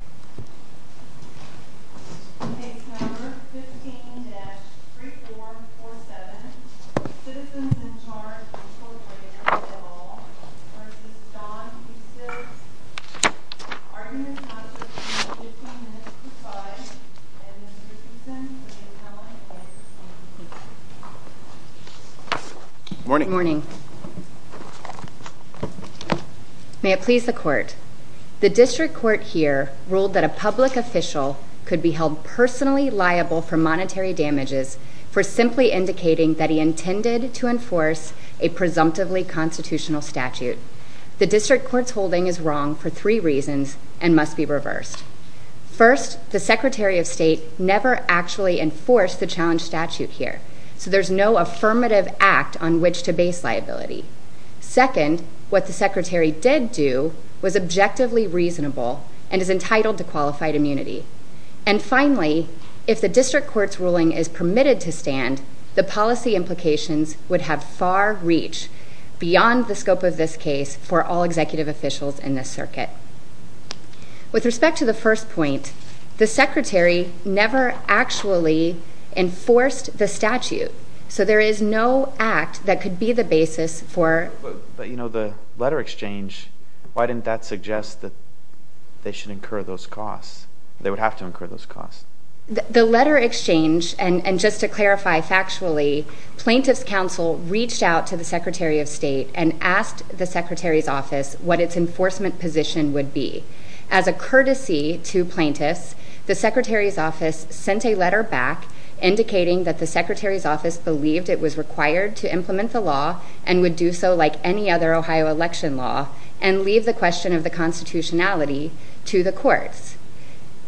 15-3447, Citizens in Charge v. Jon Husted, Arguments not to be heard, 15 minutes to 5, and Mr. Cusin for the appellate case. Good morning. Good morning. May it please the court. The district court here ruled that a public official could be held personally liable for monetary damages for simply indicating that he intended to enforce a presumptively constitutional statute. The district court's holding is wrong for three reasons and must be reversed. First, the Secretary of State never actually enforced the challenge statute here, so there's no affirmative act on which to base liability. Second, what the Secretary did do was objectively reasonable and is entitled to qualified immunity. And finally, if the district court's ruling is permitted to stand, the policy implications would have far reach beyond the scope of this case for all executive officials in this circuit. With respect to the first point, the Secretary never actually enforced the statute, so there is no act that could be the basis for... But, you know, the letter exchange, why didn't that suggest that they should incur those costs? They would have to incur those costs. The letter exchange, and just to clarify factually, plaintiff's counsel reached out to the Secretary of State and asked the Secretary's office what its enforcement position would be. As a courtesy to plaintiffs, the Secretary's office sent a letter back indicating that the Secretary's office believed it was required to implement the law and would do so like any other Ohio election law and leave the question of the constitutionality to the courts.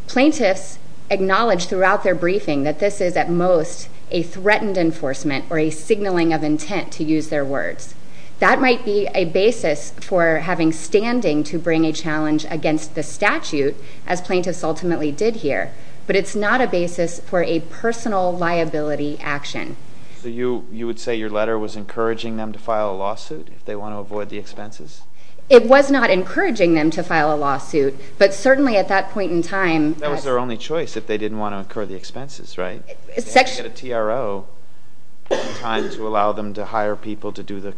Plaintiffs acknowledged throughout their briefing that this is at most a threatened enforcement or a signaling of intent, to use their words. That might be a basis for having standing to bring a challenge against the statute, as plaintiffs ultimately did here, but it's not a basis for a personal liability action. So you would say your letter was encouraging them to file a lawsuit if they want to avoid the expenses? It was not encouraging them to file a lawsuit, but certainly at that point in time... That was their only choice if they didn't want to incur the expenses, right? They had to get a TRO in time to allow them to hire people to do the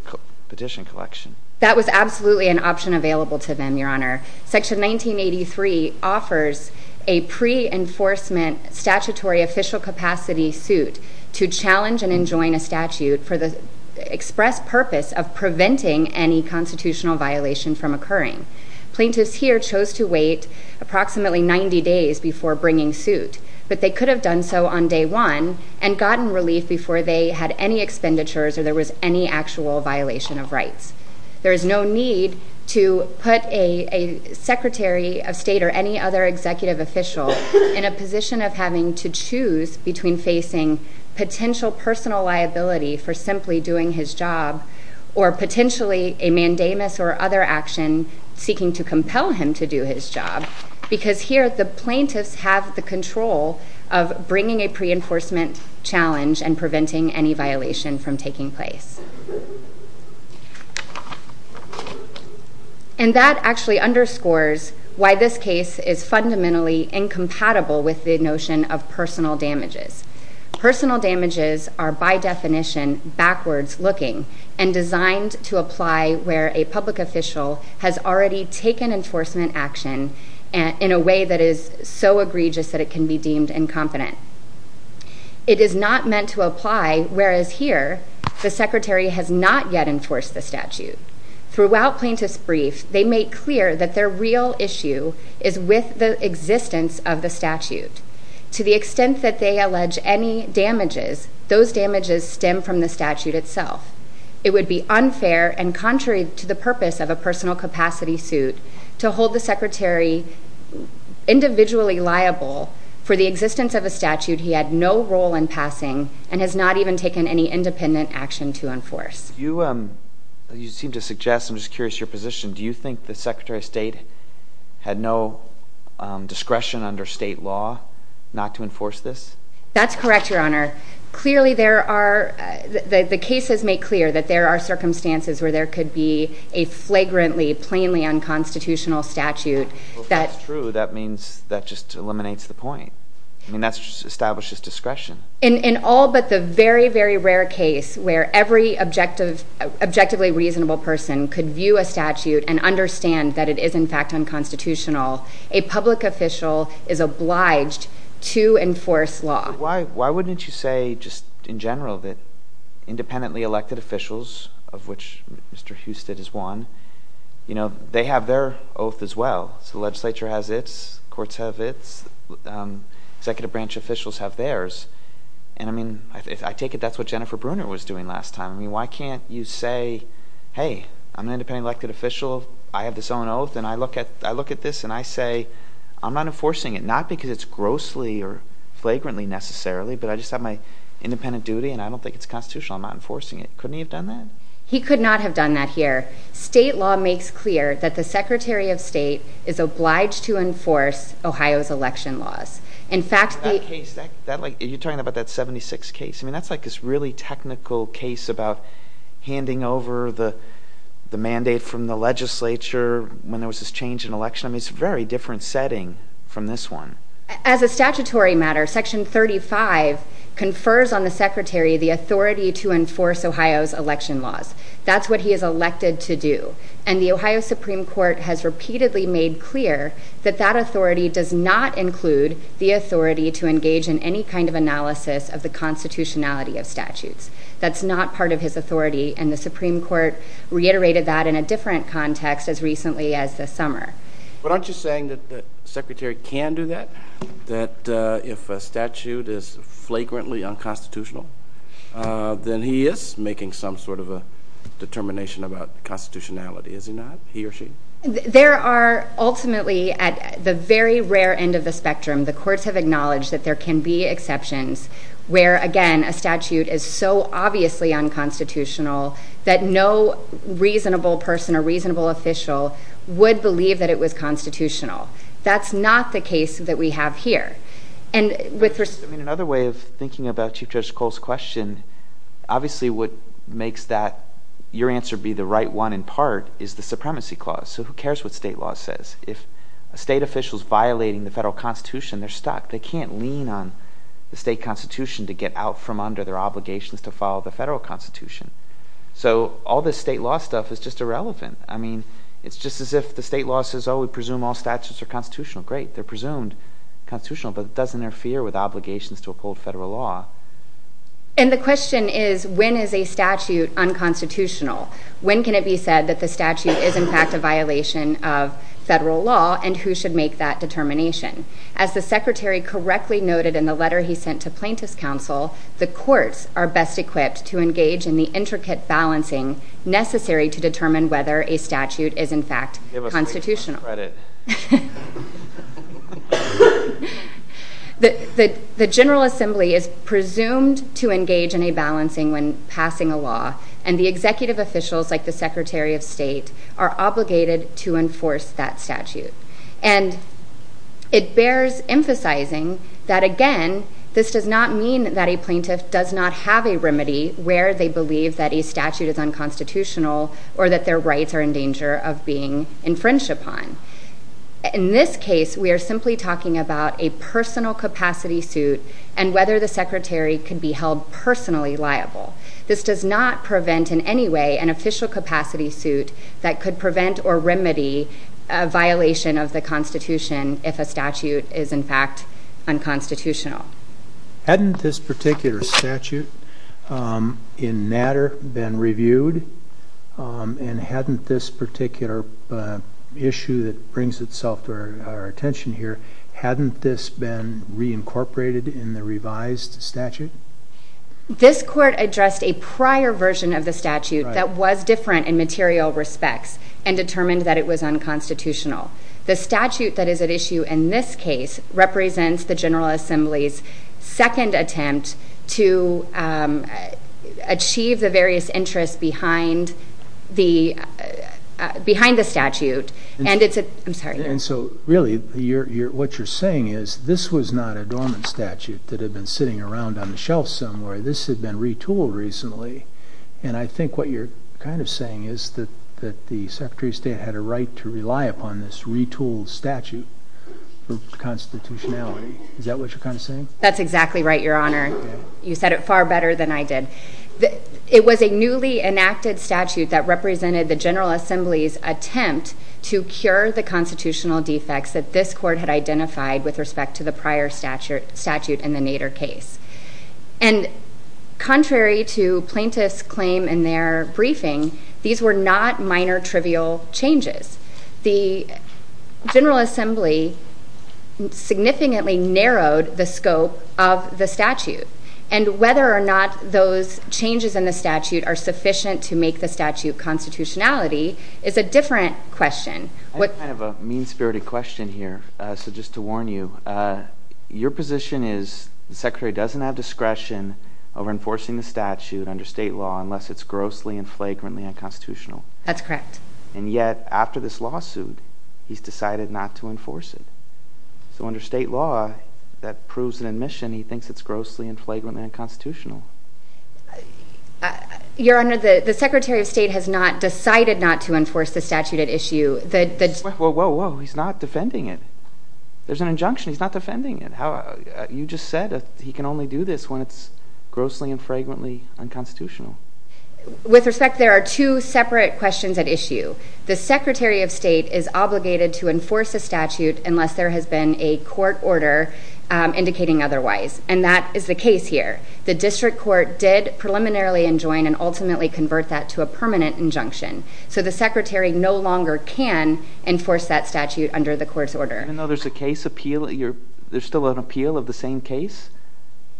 petition collection. That was absolutely an option available to them, Your Honor. Section 1983 offers a pre-enforcement statutory official capacity suit to challenge and enjoin a statute for the express purpose of preventing any constitutional violation from occurring. Plaintiffs here chose to wait approximately 90 days before bringing suit, but they could have done so on day one and gotten relief before they had any expenditures or there was any actual violation of rights. There is no need to put a Secretary of State or any other executive official in a position of having to choose between facing potential personal liability for simply doing his job, or potentially a mandamus or other action seeking to compel him to do his job, because here the plaintiffs have the control of bringing a pre-enforcement challenge and preventing any violation from taking place. And that actually underscores why this case is fundamentally incompatible with the notion of personal damages. Personal damages are by definition backwards looking and designed to apply where a public official has already taken enforcement action in a way that is so egregious that it can be deemed incompetent. It is not meant to apply, whereas here the Secretary has not yet enforced the statute. Throughout plaintiff's brief, they make clear that their real issue is with the existence of the statute. To the extent that they allege any damages, those damages stem from the statute itself. It would be unfair and contrary to the purpose of a personal capacity suit to hold the Secretary individually liable for the existence of a statute he had no role in passing and has not even taken any independent action to enforce. You seem to suggest, I'm just curious, your position. Do you think the Secretary of State had no discretion under state law not to enforce this? That's correct, Your Honor. Clearly there are, the cases make clear that there are circumstances where there could be a flagrantly, plainly unconstitutional statute. Well if that's true, that means that just eliminates the point. I mean that just establishes discretion. In all but the very, very rare case where every objectively reasonable person could view a statute and understand that it is in fact unconstitutional, a public official is obliged to enforce law. Why wouldn't you say just in general that independently elected officials, of which Mr. Husted is one, they have their oath as well. So the legislature has its, courts have its, executive branch officials have theirs. And I mean, I take it that's what Jennifer Bruner was doing last time. I mean why can't you say, hey, I'm an independently elected official, I have this own oath, and I look at this and I say, I'm not enforcing it. Not because it's grossly or flagrantly necessarily, but I just have my independent duty and I don't think it's constitutional, I'm not enforcing it. Couldn't he have done that? He could not have done that here. State law makes clear that the Secretary of State is obliged to enforce Ohio's election laws. Are you talking about that 76 case? I mean, that's like this really technical case about handing over the mandate from the legislature when there was this change in election. I mean, it's a very different setting from this one. As a statutory matter, Section 35 confers on the Secretary the authority to enforce Ohio's election laws. That's what he is elected to do. And the Ohio Supreme Court has repeatedly made clear that that authority does not include the authority to engage in any kind of analysis of the constitutionality of statutes. That's not part of his authority, and the Supreme Court reiterated that in a different context as recently as this summer. But aren't you saying that the Secretary can do that? That if a statute is flagrantly unconstitutional, then he is making some sort of a determination about constitutionality, is he not? He or she? There are ultimately, at the very rare end of the spectrum, the courts have acknowledged that there can be exceptions where, again, a statute is so obviously unconstitutional that no reasonable person or reasonable official would believe that it was constitutional. That's not the case that we have here. And with respect— I mean, another way of thinking about Chief Judge Cole's question, obviously what makes that your answer be the right one in part is the supremacy clause. So who cares what state law says? If a state official is violating the federal constitution, they're stuck. They can't lean on the state constitution to get out from under their obligations to follow the federal constitution. So all this state law stuff is just irrelevant. I mean, it's just as if the state law says, oh, we presume all statutes are constitutional. Great. They're presumed constitutional, but it doesn't interfere with obligations to uphold federal law. And the question is, when is a statute unconstitutional? When can it be said that the statute is in fact a violation of federal law, and who should make that determination? As the Secretary correctly noted in the letter he sent to Plaintiff's Counsel, the courts are best equipped to engage in the intricate balancing necessary to determine whether a statute is in fact constitutional. Give us some credit. The General Assembly is presumed to engage in a balancing when passing a law, and the executive officials, like the Secretary of State, are obligated to enforce that statute. And it bears emphasizing that, again, this does not mean that a plaintiff does not have a remedy where they believe that a statute is unconstitutional or that their rights are in danger of being infringed upon. In this case, we are simply talking about a personal capacity suit and whether the Secretary can be held personally liable. This does not prevent in any way an official capacity suit that could prevent or remedy a violation of the Constitution if a statute is in fact unconstitutional. Hadn't this particular statute in Natter been reviewed? And hadn't this particular issue that brings itself to our attention here, hadn't this been reincorporated in the revised statute? This court addressed a prior version of the statute that was different in material respects and determined that it was unconstitutional. The statute that is at issue in this case represents the General Assembly's second attempt to achieve the various interests behind the statute. And so, really, what you're saying is this was not a dormant statute that had been sitting around on the shelf somewhere. This had been retooled recently. And I think what you're kind of saying is that the Secretary of State had a right to rely upon this retooled statute for constitutionality. Is that what you're kind of saying? That's exactly right, Your Honor. You said it far better than I did. It was a newly enacted statute that represented the General Assembly's attempt to cure the constitutional defects that this court had identified with respect to the prior statute in the Natter case. And contrary to plaintiffs' claim in their briefing, these were not minor trivial changes. The General Assembly significantly narrowed the scope of the statute. And whether or not those changes in the statute are sufficient to make the statute constitutionality is a different question. I have kind of a mean-spirited question here. So just to warn you, your position is the Secretary doesn't have discretion over enforcing the statute under state law unless it's grossly and flagrantly unconstitutional. That's correct. And yet, after this lawsuit, he's decided not to enforce it. So under state law, that proves an admission he thinks it's grossly and flagrantly unconstitutional. Your Honor, the Secretary of State has not decided not to enforce the statute at issue. Whoa, whoa, whoa. He's not defending it. There's an injunction. He's not defending it. You just said he can only do this when it's grossly and flagrantly unconstitutional. With respect, there are two separate questions at issue. The Secretary of State is obligated to enforce a statute unless there has been a court order indicating otherwise. And that is the case here. The district court did preliminarily enjoin and ultimately convert that to a permanent injunction. So the Secretary no longer can enforce that statute under the court's order. Even though there's a case appeal – there's still an appeal of the same case?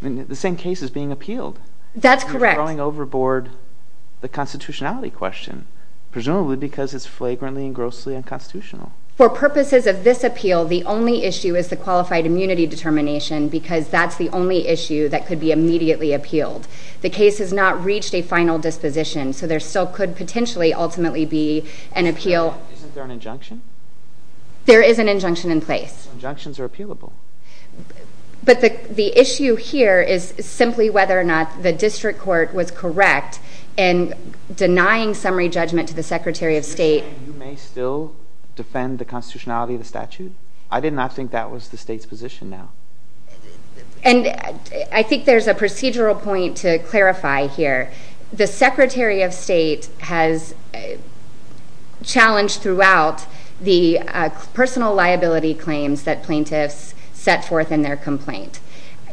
I mean, the same case is being appealed. That's correct. You're throwing overboard the constitutionality question, presumably because it's flagrantly and grossly unconstitutional. For purposes of this appeal, the only issue is the qualified immunity determination because that's the only issue that could be immediately appealed. The case has not reached a final disposition, so there still could potentially ultimately be an appeal. Isn't there an injunction? There is an injunction in place. Injunctions are appealable. But the issue here is simply whether or not the district court was correct in denying summary judgment to the Secretary of State. You may still defend the constitutionality of the statute? I did not think that was the state's position now. And I think there's a procedural point to clarify here. The Secretary of State has challenged throughout the personal liability claims that plaintiffs set forth in their complaint.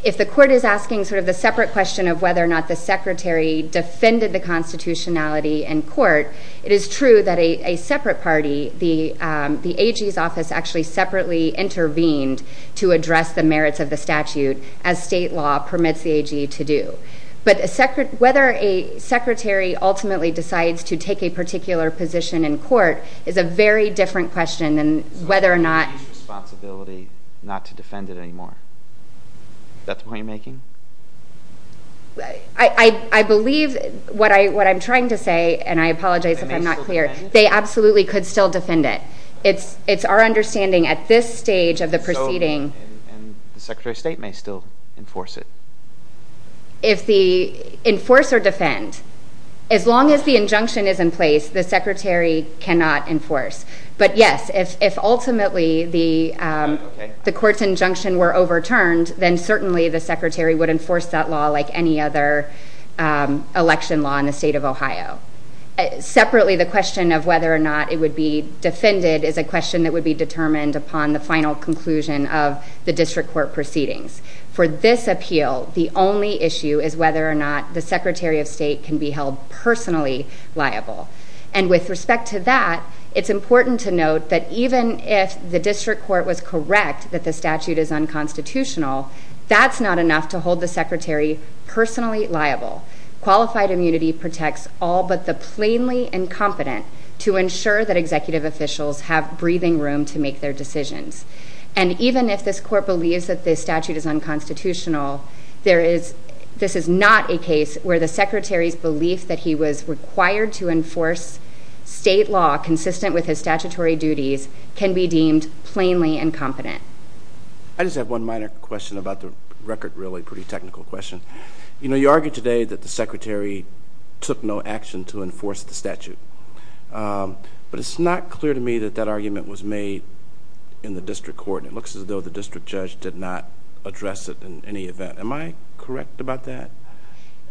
If the court is asking sort of the separate question of whether or not the Secretary defended the constitutionality in court, it is true that a separate party, the AG's office actually separately intervened to address the merits of the statute, as state law permits the AG to do. But whether a secretary ultimately decides to take a particular position in court is a very different question than whether or not— It's the Secretary's responsibility not to defend it anymore. Is that the point you're making? I believe what I'm trying to say, and I apologize if I'm not clear— They may still defend it? They absolutely could still defend it. It's our understanding at this stage of the proceeding— And the Secretary of State may still enforce it? If the—enforce or defend. As long as the injunction is in place, the Secretary cannot enforce. But yes, if ultimately the court's injunction were overturned, then certainly the Secretary would enforce that law like any other election law in the state of Ohio. Separately, the question of whether or not it would be defended is a question that would be determined upon the final conclusion of the district court proceedings. For this appeal, the only issue is whether or not the Secretary of State can be held personally liable. And with respect to that, it's important to note that even if the district court was correct that the statute is unconstitutional, that's not enough to hold the Secretary personally liable. Qualified immunity protects all but the plainly incompetent to ensure that executive officials have breathing room to make their decisions. And even if this court believes that this statute is unconstitutional, this is not a case where the Secretary's belief that he was required to enforce state law consistent with his statutory duties can be deemed plainly incompetent. I just have one minor question about the record, really, pretty technical question. You know, you argued today that the Secretary took no action to enforce the statute. But it's not clear to me that that argument was made in the district court. It looks as though the district judge did not address it in any event. Am I correct about that?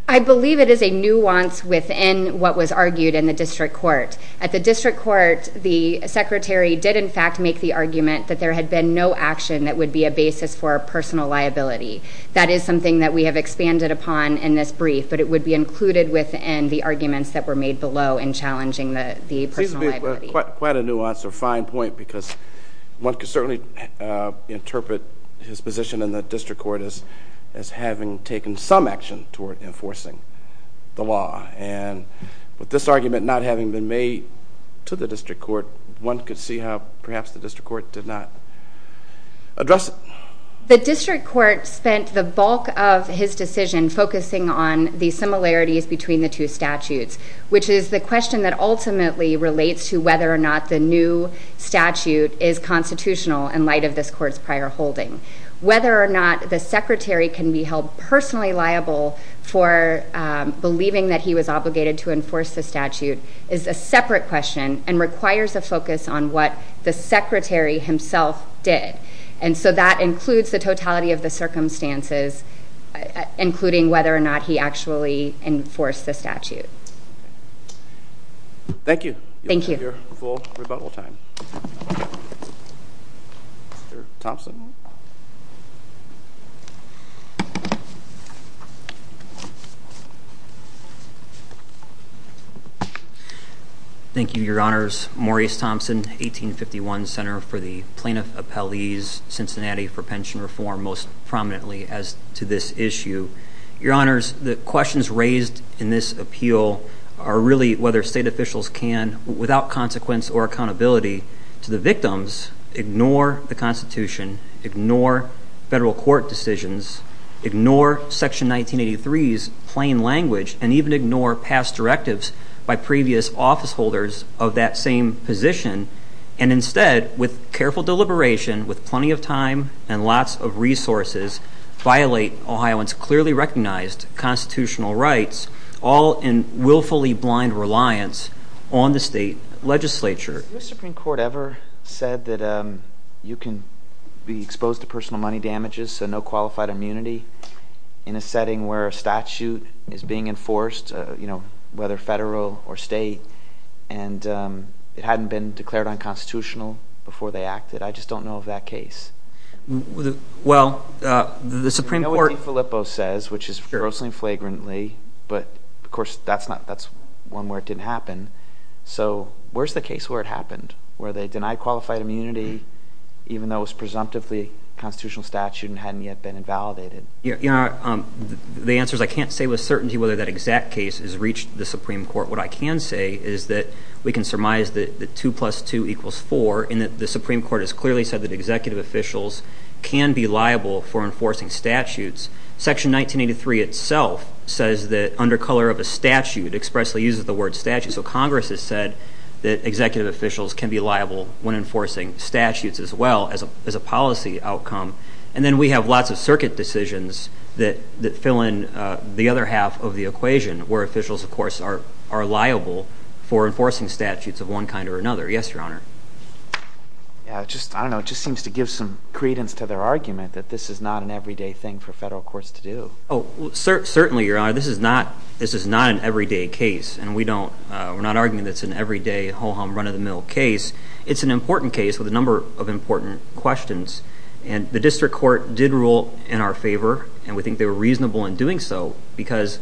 I believe it is a nuance within what was argued in the district court. At the district court, the Secretary did, in fact, make the argument that there had been no action that would be a basis for personal liability. That is something that we have expanded upon in this brief, but it would be included within the arguments that were made below in challenging the personal liability. Seems to be quite a nuance or fine point because one could certainly interpret his position in the district court as having taken some action toward enforcing the law. And with this argument not having been made to the district court, one could see how perhaps the district court did not address it. The district court spent the bulk of his decision focusing on the similarities between the two statutes, which is the question that ultimately relates to whether or not the new statute is constitutional in light of this court's prior holding. Whether or not the Secretary can be held personally liable for believing that he was obligated to enforce the statute is a separate question and requires a focus on what the Secretary himself did. And so that includes the totality of the circumstances, including whether or not he actually enforced the statute. Thank you. Thank you. You'll have your full rebuttal time. Mr. Thompson. Thank you, Your Honors. Maurice Thompson, 1851 Center for the Plaintiff Appellees, Cincinnati for Pension Reform, most prominently as to this issue. Your Honors, the questions raised in this appeal are really whether state officials can, without consequence or accountability to the victims, ignore the Constitution, ignore federal court decisions, ignore Section 1983's plain language, and even ignore past directives by previous office holders of that same position, and instead, with careful deliberation, with plenty of time and lots of resources, violate Ohioans' clearly recognized constitutional rights, all in willfully blind reliance on the state legislature. Has the U.S. Supreme Court ever said that you can be exposed to personal money damages, so no qualified immunity in a setting where a statute is being enforced, whether federal or state, and it hadn't been declared unconstitutional before they acted? I just don't know of that case. Well, the Supreme Court — I know what DeFilippo says, which is grossly and flagrantly, but, of course, that's one where it didn't happen. So where's the case where it happened, where they denied qualified immunity, even though it was presumptively a constitutional statute and hadn't yet been invalidated? Your Honor, the answer is I can't say with certainty whether that exact case has reached the Supreme Court. What I can say is that we can surmise that 2 plus 2 equals 4, and that the Supreme Court has clearly said that executive officials can be liable for enforcing statutes. Section 1983 itself says that, under color of a statute, expressly uses the word statute. So Congress has said that executive officials can be liable when enforcing statutes as well as a policy outcome. And then we have lots of circuit decisions that fill in the other half of the equation, where officials, of course, are liable for enforcing statutes of one kind or another. Yes, Your Honor. I don't know. It just seems to give some credence to their argument that this is not an everyday thing for federal courts to do. Certainly, Your Honor. This is not an everyday case, and we're not arguing that it's an everyday, ho-hum, run-of-the-mill case. It's an important case with a number of important questions. And the district court did rule in our favor, and we think they were reasonable in doing so, because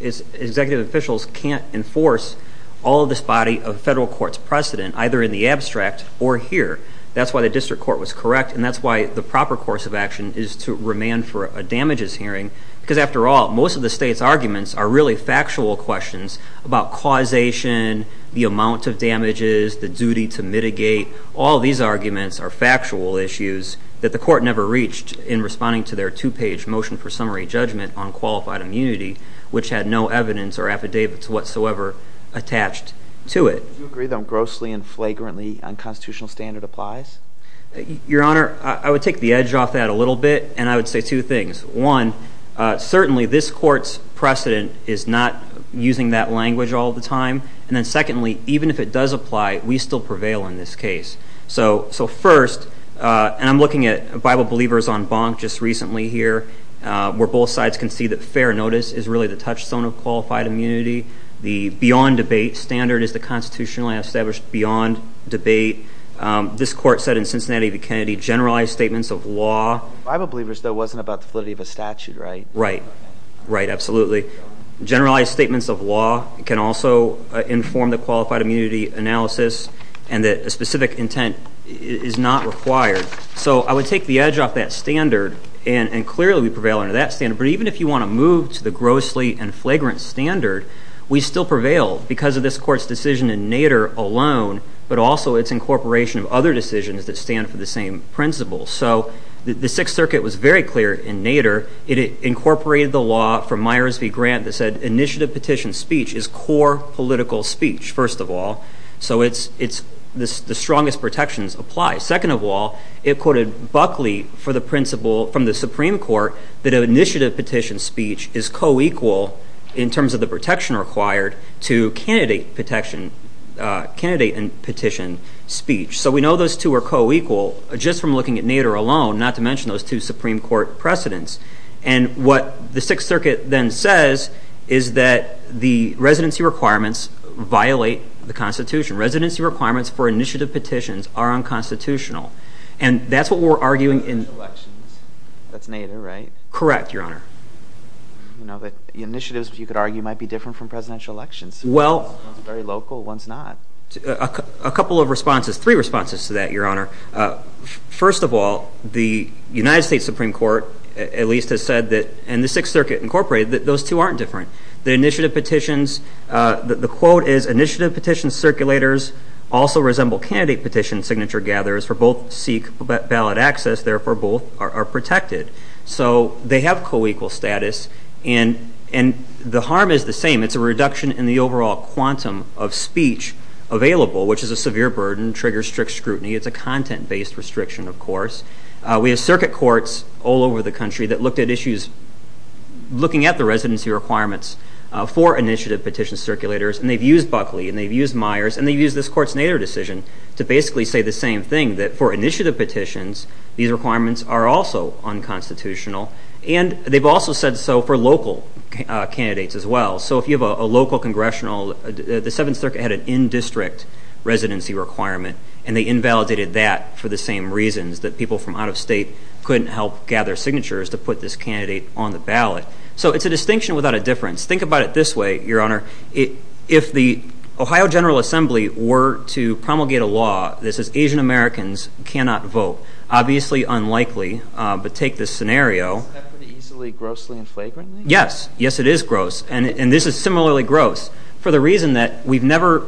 executive officials can't enforce all of this body of federal court's precedent, either in the abstract or here. That's why the district court was correct, and that's why the proper course of action is to remand for a damages hearing, because, after all, most of the state's arguments are really factual questions about causation, the amount of damages, the duty to mitigate. All these arguments are factual issues that the court never reached in responding to their two-page motion for summary judgment on qualified immunity, which had no evidence or affidavits whatsoever attached to it. Do you agree that grossly and flagrantly unconstitutional standard applies? Your Honor, I would take the edge off that a little bit, and I would say two things. One, certainly this court's precedent is not using that language all the time. And then secondly, even if it does apply, we still prevail in this case. So first, and I'm looking at Bible Believers on Bonk just recently here, where both sides can see that fair notice is really the touchstone of qualified immunity. The beyond debate standard is the constitutionally established beyond debate. This court said in Cincinnati v. Kennedy, generalized statements of law. Bible Believers, though, wasn't about the validity of a statute, right? Right. Right, absolutely. Generalized statements of law can also inform the qualified immunity analysis and that a specific intent is not required. So I would take the edge off that standard, and clearly we prevail under that standard. But even if you want to move to the grossly and flagrant standard, we still prevail because of this court's decision in Nader alone, but also its incorporation of other decisions that stand for the same principles. So the Sixth Circuit was very clear in Nader. It incorporated the law from Myers v. Grant that said initiative petition speech is core political speech, first of all. So the strongest protections apply. Second of all, it quoted Buckley from the Supreme Court that initiative petition speech is co-equal, in terms of the protection required, to candidate and petition speech. So we know those two are co-equal just from looking at Nader alone, not to mention those two Supreme Court precedents. And what the Sixth Circuit then says is that the residency requirements violate the Constitution. Residency requirements for initiative petitions are unconstitutional. And that's what we're arguing in- Presidential elections. That's Nader, right? Correct, Your Honor. You know, the initiatives, you could argue, might be different from presidential elections. Well- One's very local, one's not. A couple of responses, three responses to that, Your Honor. First of all, the United States Supreme Court, at least, has said that, and the Sixth Circuit incorporated, that those two aren't different. The initiative petitions, the quote is, initiative petition circulators also resemble candidate petition signature gatherers, for both seek valid access, therefore both are protected. So they have co-equal status, and the harm is the same. It's a reduction in the overall quantum of speech available, which is a severe burden, triggers strict scrutiny. It's a content-based restriction, of course. We have circuit courts all over the country that looked at issues, looking at the residency requirements for initiative petition circulators, and they've used Buckley, and they've used Myers, and they've used this Court's Nader decision to basically say the same thing, that for initiative petitions, these requirements are also unconstitutional, and they've also said so for local candidates as well. So if you have a local congressional, the Seventh Circuit had an in-district residency requirement, and they invalidated that for the same reasons, that people from out of state couldn't help gather signatures to put this candidate on the ballot. So it's a distinction without a difference. Think about it this way, Your Honor. If the Ohio General Assembly were to promulgate a law that says Asian Americans cannot vote, obviously unlikely, but take this scenario. Isn't that pretty easily grossly and flagrantly? Yes. Yes, it is gross, and this is similarly gross for the reason that we've never,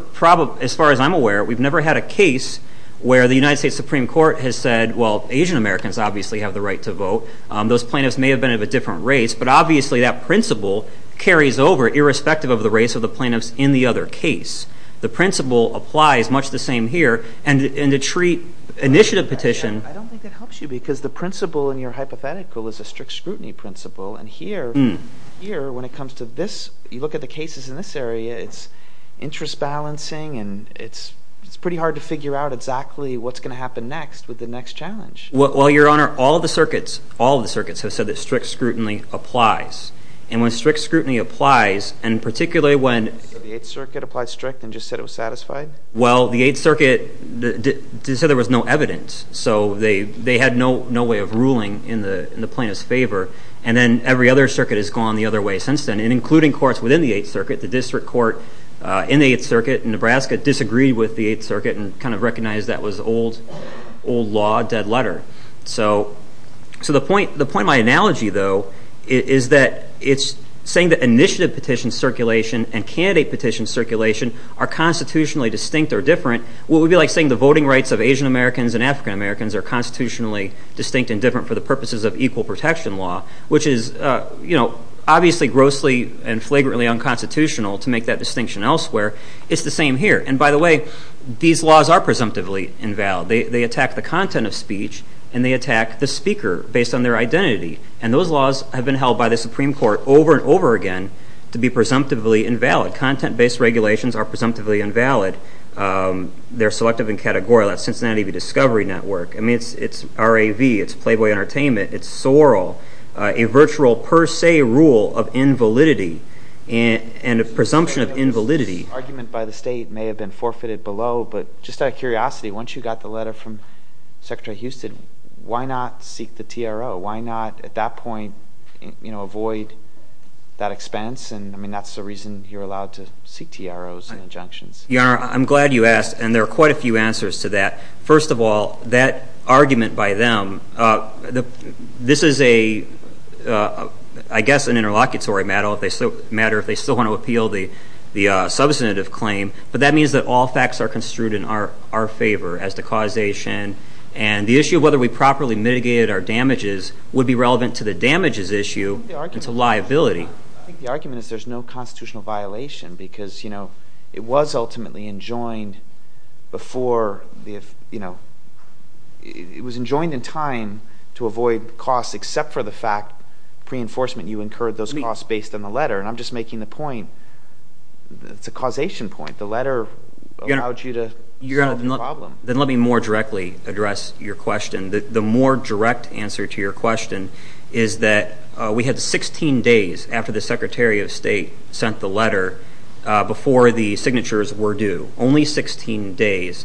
as far as I'm aware, we've never had a case where the United States Supreme Court has said, well, Asian Americans obviously have the right to vote. Those plaintiffs may have been of a different race, but obviously that principle carries over, irrespective of the race of the plaintiffs in the other case. The principle applies much the same here, and to treat initiative petition – I don't think that helps you because the principle in your hypothetical is a strict scrutiny principle, and here, when it comes to this, you look at the cases in this area, it's interest balancing, and it's pretty hard to figure out exactly what's going to happen next with the next challenge. Well, Your Honor, all the circuits, all the circuits have said that strict scrutiny applies, and when strict scrutiny applies, and particularly when – So the Eighth Circuit applied strict and just said it was satisfied? Well, the Eighth Circuit said there was no evidence, so they had no way of ruling in the plaintiff's favor, and then every other circuit has gone the other way since then, including courts within the Eighth Circuit. The district court in the Eighth Circuit in Nebraska disagreed with the Eighth Circuit and kind of recognized that was old law, dead letter. So the point of my analogy, though, is that it's saying that initiative petition circulation and candidate petition circulation are constitutionally distinct or different. What would it be like saying the voting rights of Asian Americans and African Americans are constitutionally distinct and different for the purposes of equal protection law, which is obviously grossly and flagrantly unconstitutional to make that distinction elsewhere. It's the same here. And by the way, these laws are presumptively invalid. They attack the content of speech, and they attack the speaker based on their identity, and those laws have been held by the Supreme Court over and over again to be presumptively invalid. Content-based regulations are presumptively invalid. They're selective and categorical. That's Cincinnati Discovery Network. I mean, it's RAV. It's Playboy Entertainment. It's SORL, a virtual per se rule of invalidity and a presumption of invalidity. This argument by the state may have been forfeited below, but just out of curiosity, once you got the letter from Secretary Houston, why not seek the TRO? Why not at that point avoid that expense? I mean, that's the reason you're allowed to seek TROs and injunctions. Your Honor, I'm glad you asked, and there are quite a few answers to that. First of all, that argument by them, this is, I guess, an interlocutory matter if they still want to appeal the substantive claim, but that means that all facts are construed in our favor as to causation, and the issue of whether we properly mitigated our damages would be relevant to the damages issue and to liability. I think the argument is there's no constitutional violation because, you know, it was ultimately enjoined before the, you know, it was enjoined in time to avoid costs except for the fact, pre-enforcement, you incurred those costs based on the letter, and I'm just making the point. It's a causation point. The letter allowed you to solve the problem. Then let me more directly address your question. The more direct answer to your question is that we had 16 days after the Secretary of State sent the letter before the signatures were due, only 16 days.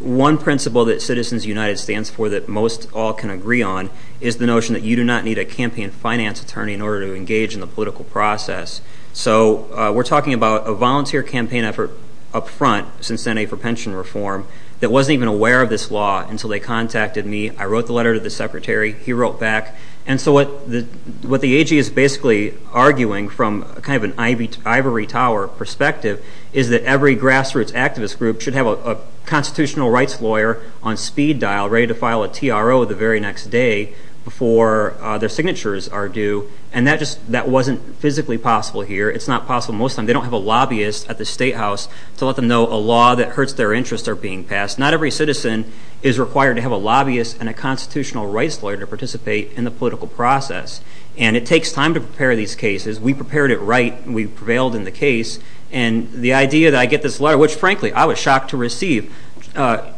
One principle that Citizens United stands for that most all can agree on is the notion that you do not need a campaign finance attorney in order to engage in the political process. So we're talking about a volunteer campaign effort up front, Cincinnati for Pension Reform, that wasn't even aware of this law until they contacted me. I wrote the letter to the Secretary. He wrote back. And so what the AG is basically arguing from kind of an ivory tower perspective is that every grassroots activist group should have a constitutional rights lawyer on speed dial ready to file a TRO the very next day before their signatures are due, and that just wasn't physically possible here. It's not possible most of the time. They don't have a lobbyist at the Statehouse to let them know a law that hurts their interests are being passed. Not every citizen is required to have a lobbyist and a constitutional rights lawyer to participate in the political process. And it takes time to prepare these cases. We prepared it right. We prevailed in the case. And the idea that I get this letter, which, frankly, I was shocked to receive,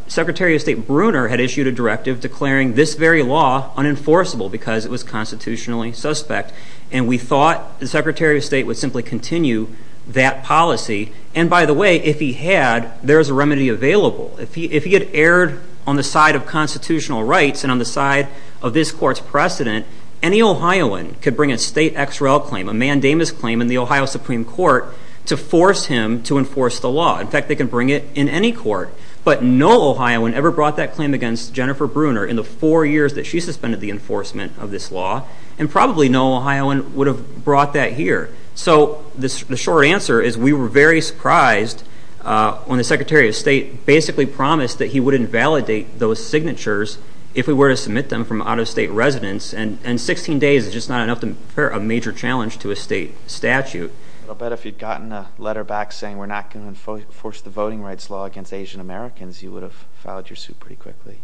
Secretary of State Bruner had issued a directive declaring this very law unenforceable because it was constitutionally suspect. And we thought the Secretary of State would simply continue that policy. And, by the way, if he had, there's a remedy available. If he had erred on the side of constitutional rights and on the side of this court's precedent, any Ohioan could bring a state XRL claim, a mandamus claim, in the Ohio Supreme Court to force him to enforce the law. In fact, they can bring it in any court. But no Ohioan ever brought that claim against Jennifer Bruner in the four years that she suspended the enforcement of this law. And probably no Ohioan would have brought that here. So the short answer is we were very surprised when the Secretary of State basically promised that he wouldn't validate those signatures if we were to submit them from out-of-state residents. And 16 days is just not enough to prepare a major challenge to a state statute. I'll bet if you'd gotten a letter back saying we're not going to enforce the voting rights law against Asian Americans, you would have filed your suit pretty quickly.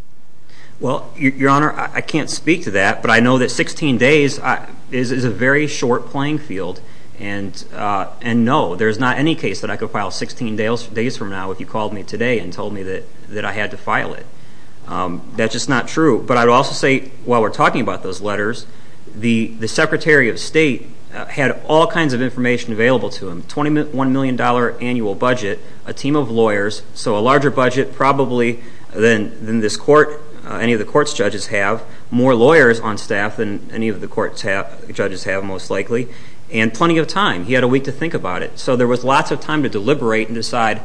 Well, Your Honor, I can't speak to that. But I know that 16 days is a very short playing field. And no, there's not any case that I could file 16 days from now if you called me today and told me that I had to file it. That's just not true. But I would also say while we're talking about those letters, the Secretary of State had all kinds of information available to him, $21 million annual budget, a team of lawyers, so a larger budget probably than any of the court's judges have, more lawyers on staff than any of the court's judges have most likely, and plenty of time. He had a week to think about it. So there was lots of time to deliberate and decide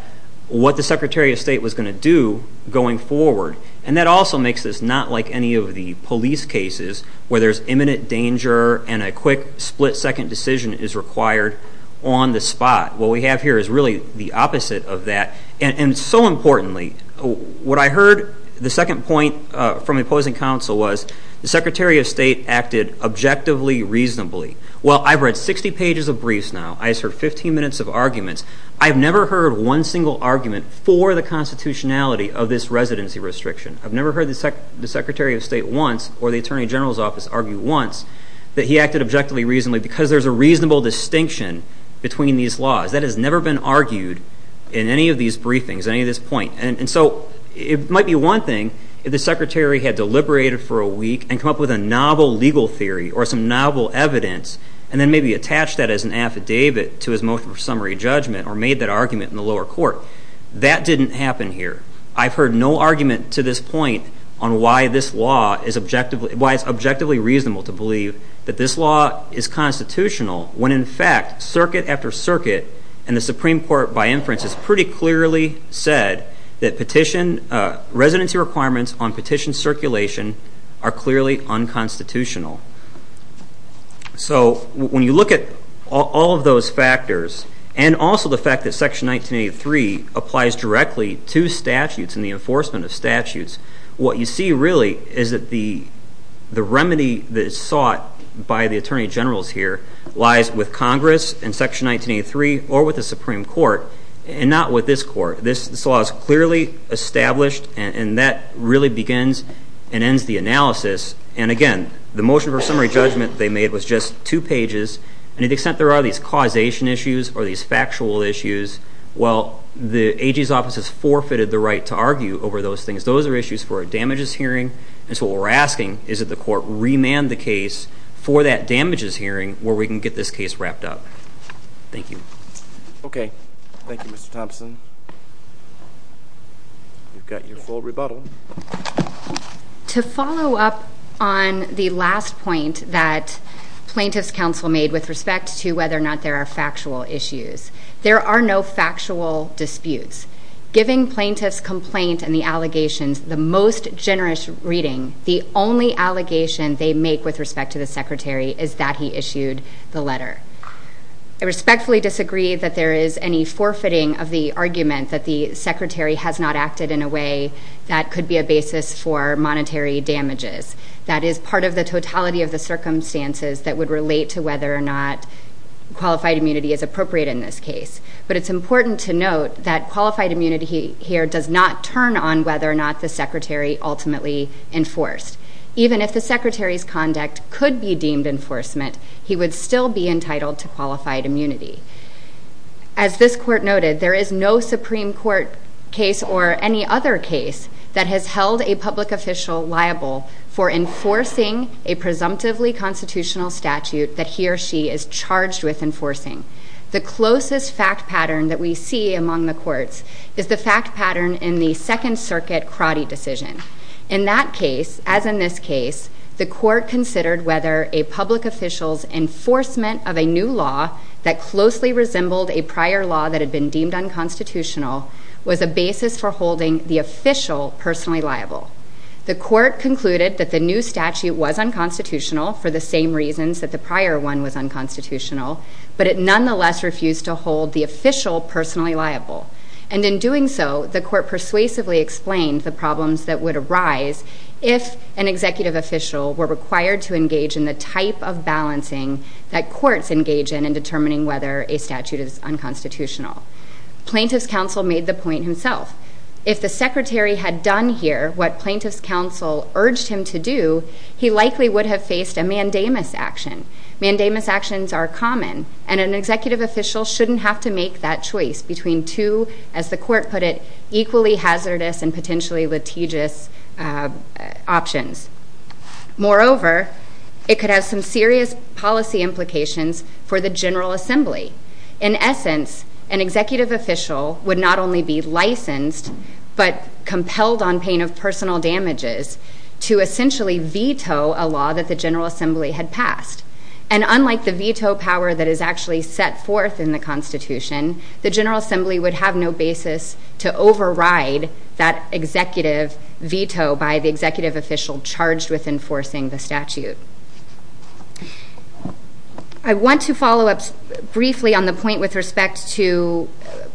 what the Secretary of State was going to do going forward. And that also makes this not like any of the police cases where there's imminent danger and a quick split-second decision is required on the spot. What we have here is really the opposite of that. And so importantly, what I heard, the second point from the opposing counsel was, the Secretary of State acted objectively, reasonably. Well, I've read 60 pages of briefs now. I've heard 15 minutes of arguments. I've never heard one single argument for the constitutionality of this residency restriction. I've never heard the Secretary of State once or the Attorney General's office argue once that he acted objectively, reasonably because there's a reasonable distinction between these laws. That has never been argued in any of these briefings, any of this point. And so it might be one thing if the Secretary had deliberated for a week and come up with a novel legal theory or some novel evidence and then maybe attach that as an affidavit to his motion for summary judgment or made that argument in the lower court. That didn't happen here. I've heard no argument to this point on why it's objectively reasonable to believe that this law is constitutional when, in fact, circuit after circuit and the Supreme Court, by inference, has pretty clearly said that residency requirements on petition circulation are clearly unconstitutional. So when you look at all of those factors and also the fact that Section 1983 applies directly to statutes and the enforcement of statutes, what you see really is that the remedy that is sought by the Attorney Generals here lies with Congress and Section 1983 or with the Supreme Court and not with this court. This law is clearly established, and that really begins and ends the analysis. And, again, the motion for summary judgment they made was just two pages, and to the extent there are these causation issues or these factual issues, well, the AG's office has forfeited the right to argue over those things. Those are issues for a damages hearing, and so what we're asking is that the court remand the case for that damages hearing where we can get this case wrapped up. Thank you. Okay. Thank you, Mr. Thompson. You've got your full rebuttal. To follow up on the last point that Plaintiffs' Counsel made with respect to whether or not there are factual issues, there are no factual disputes. Giving plaintiffs' complaint and the allegations the most generous reading, the only allegation they make with respect to the Secretary is that he issued the letter. I respectfully disagree that there is any forfeiting of the argument that the Secretary has not acted in a way that could be a basis for monetary damages. That is part of the totality of the circumstances that would relate to whether or not qualified immunity is appropriate in this case. But it's important to note that qualified immunity here does not turn on whether or not the Secretary ultimately enforced. Even if the Secretary's conduct could be deemed enforcement, he would still be entitled to qualified immunity. As this court noted, there is no Supreme Court case or any other case that has held a public official liable for enforcing a presumptively constitutional statute that he or she is charged with enforcing. The closest fact pattern that we see among the courts is the fact pattern in the Second Circuit crotty decision. In that case, as in this case, the court considered whether a public official's enforcement of a new law that closely resembled a prior law that had been deemed unconstitutional was a basis for holding the official personally liable. The court concluded that the new statute was unconstitutional for the same reasons that the prior one was unconstitutional, but it nonetheless refused to hold the official personally liable. And in doing so, the court persuasively explained the problems that would arise if an executive official were required to engage in the type of balancing that courts engage in in determining whether a statute is unconstitutional. Plaintiff's counsel made the point himself. If the Secretary had done here what plaintiff's counsel urged him to do, he likely would have faced a mandamus action. Mandamus actions are common, and an executive official shouldn't have to make that choice between two, as the court put it, equally hazardous and potentially litigious options. Moreover, it could have some serious policy implications for the General Assembly. In essence, an executive official would not only be licensed, but compelled on pain of personal damages to essentially veto a law that the General Assembly had passed. And unlike the veto power that is actually set forth in the Constitution, the General Assembly would have no basis to override that executive veto by the executive official charged with enforcing the statute. I want to follow up briefly on the point with respect to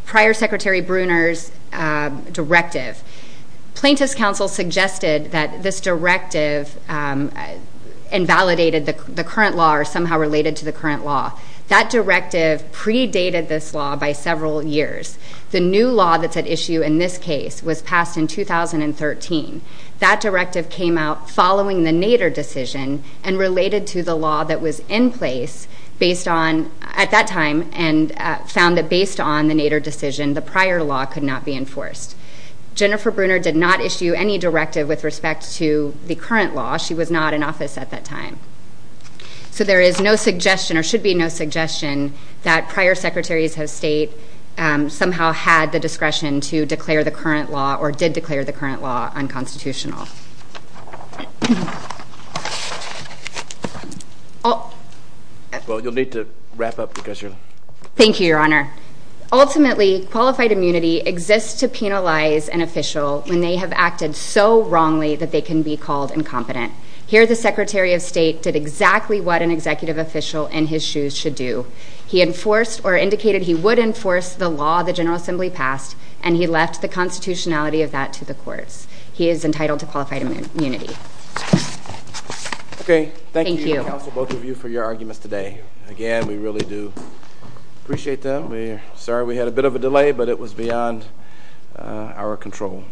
prior Secretary Bruner's directive. Plaintiff's counsel suggested that this directive invalidated the current law or somehow related to the current law. That directive predated this law by several years. The new law that's at issue in this case was passed in 2013. That directive came out following the Nader decision and related to the law that was in place at that time and found that based on the Nader decision, the prior law could not be enforced. Jennifer Bruner did not issue any directive with respect to the current law. She was not in office at that time. So there is no suggestion or should be no suggestion that prior Secretaries of State somehow had the discretion to declare the current law or did declare the current law unconstitutional. Well, you'll need to wrap up because you're... Thank you, Your Honor. Ultimately, qualified immunity exists to penalize an official when they have acted so wrongly that they can be called incompetent. Here, the Secretary of State did exactly what an executive official in his shoes should do. He enforced or indicated he would enforce the law the General Assembly passed and he left the constitutionality of that to the courts. He is entitled to pay for that. Okay. Thank you, counsel, both of you, for your arguments today. Again, we really do appreciate them. Sorry we had a bit of a delay, but it was beyond our control.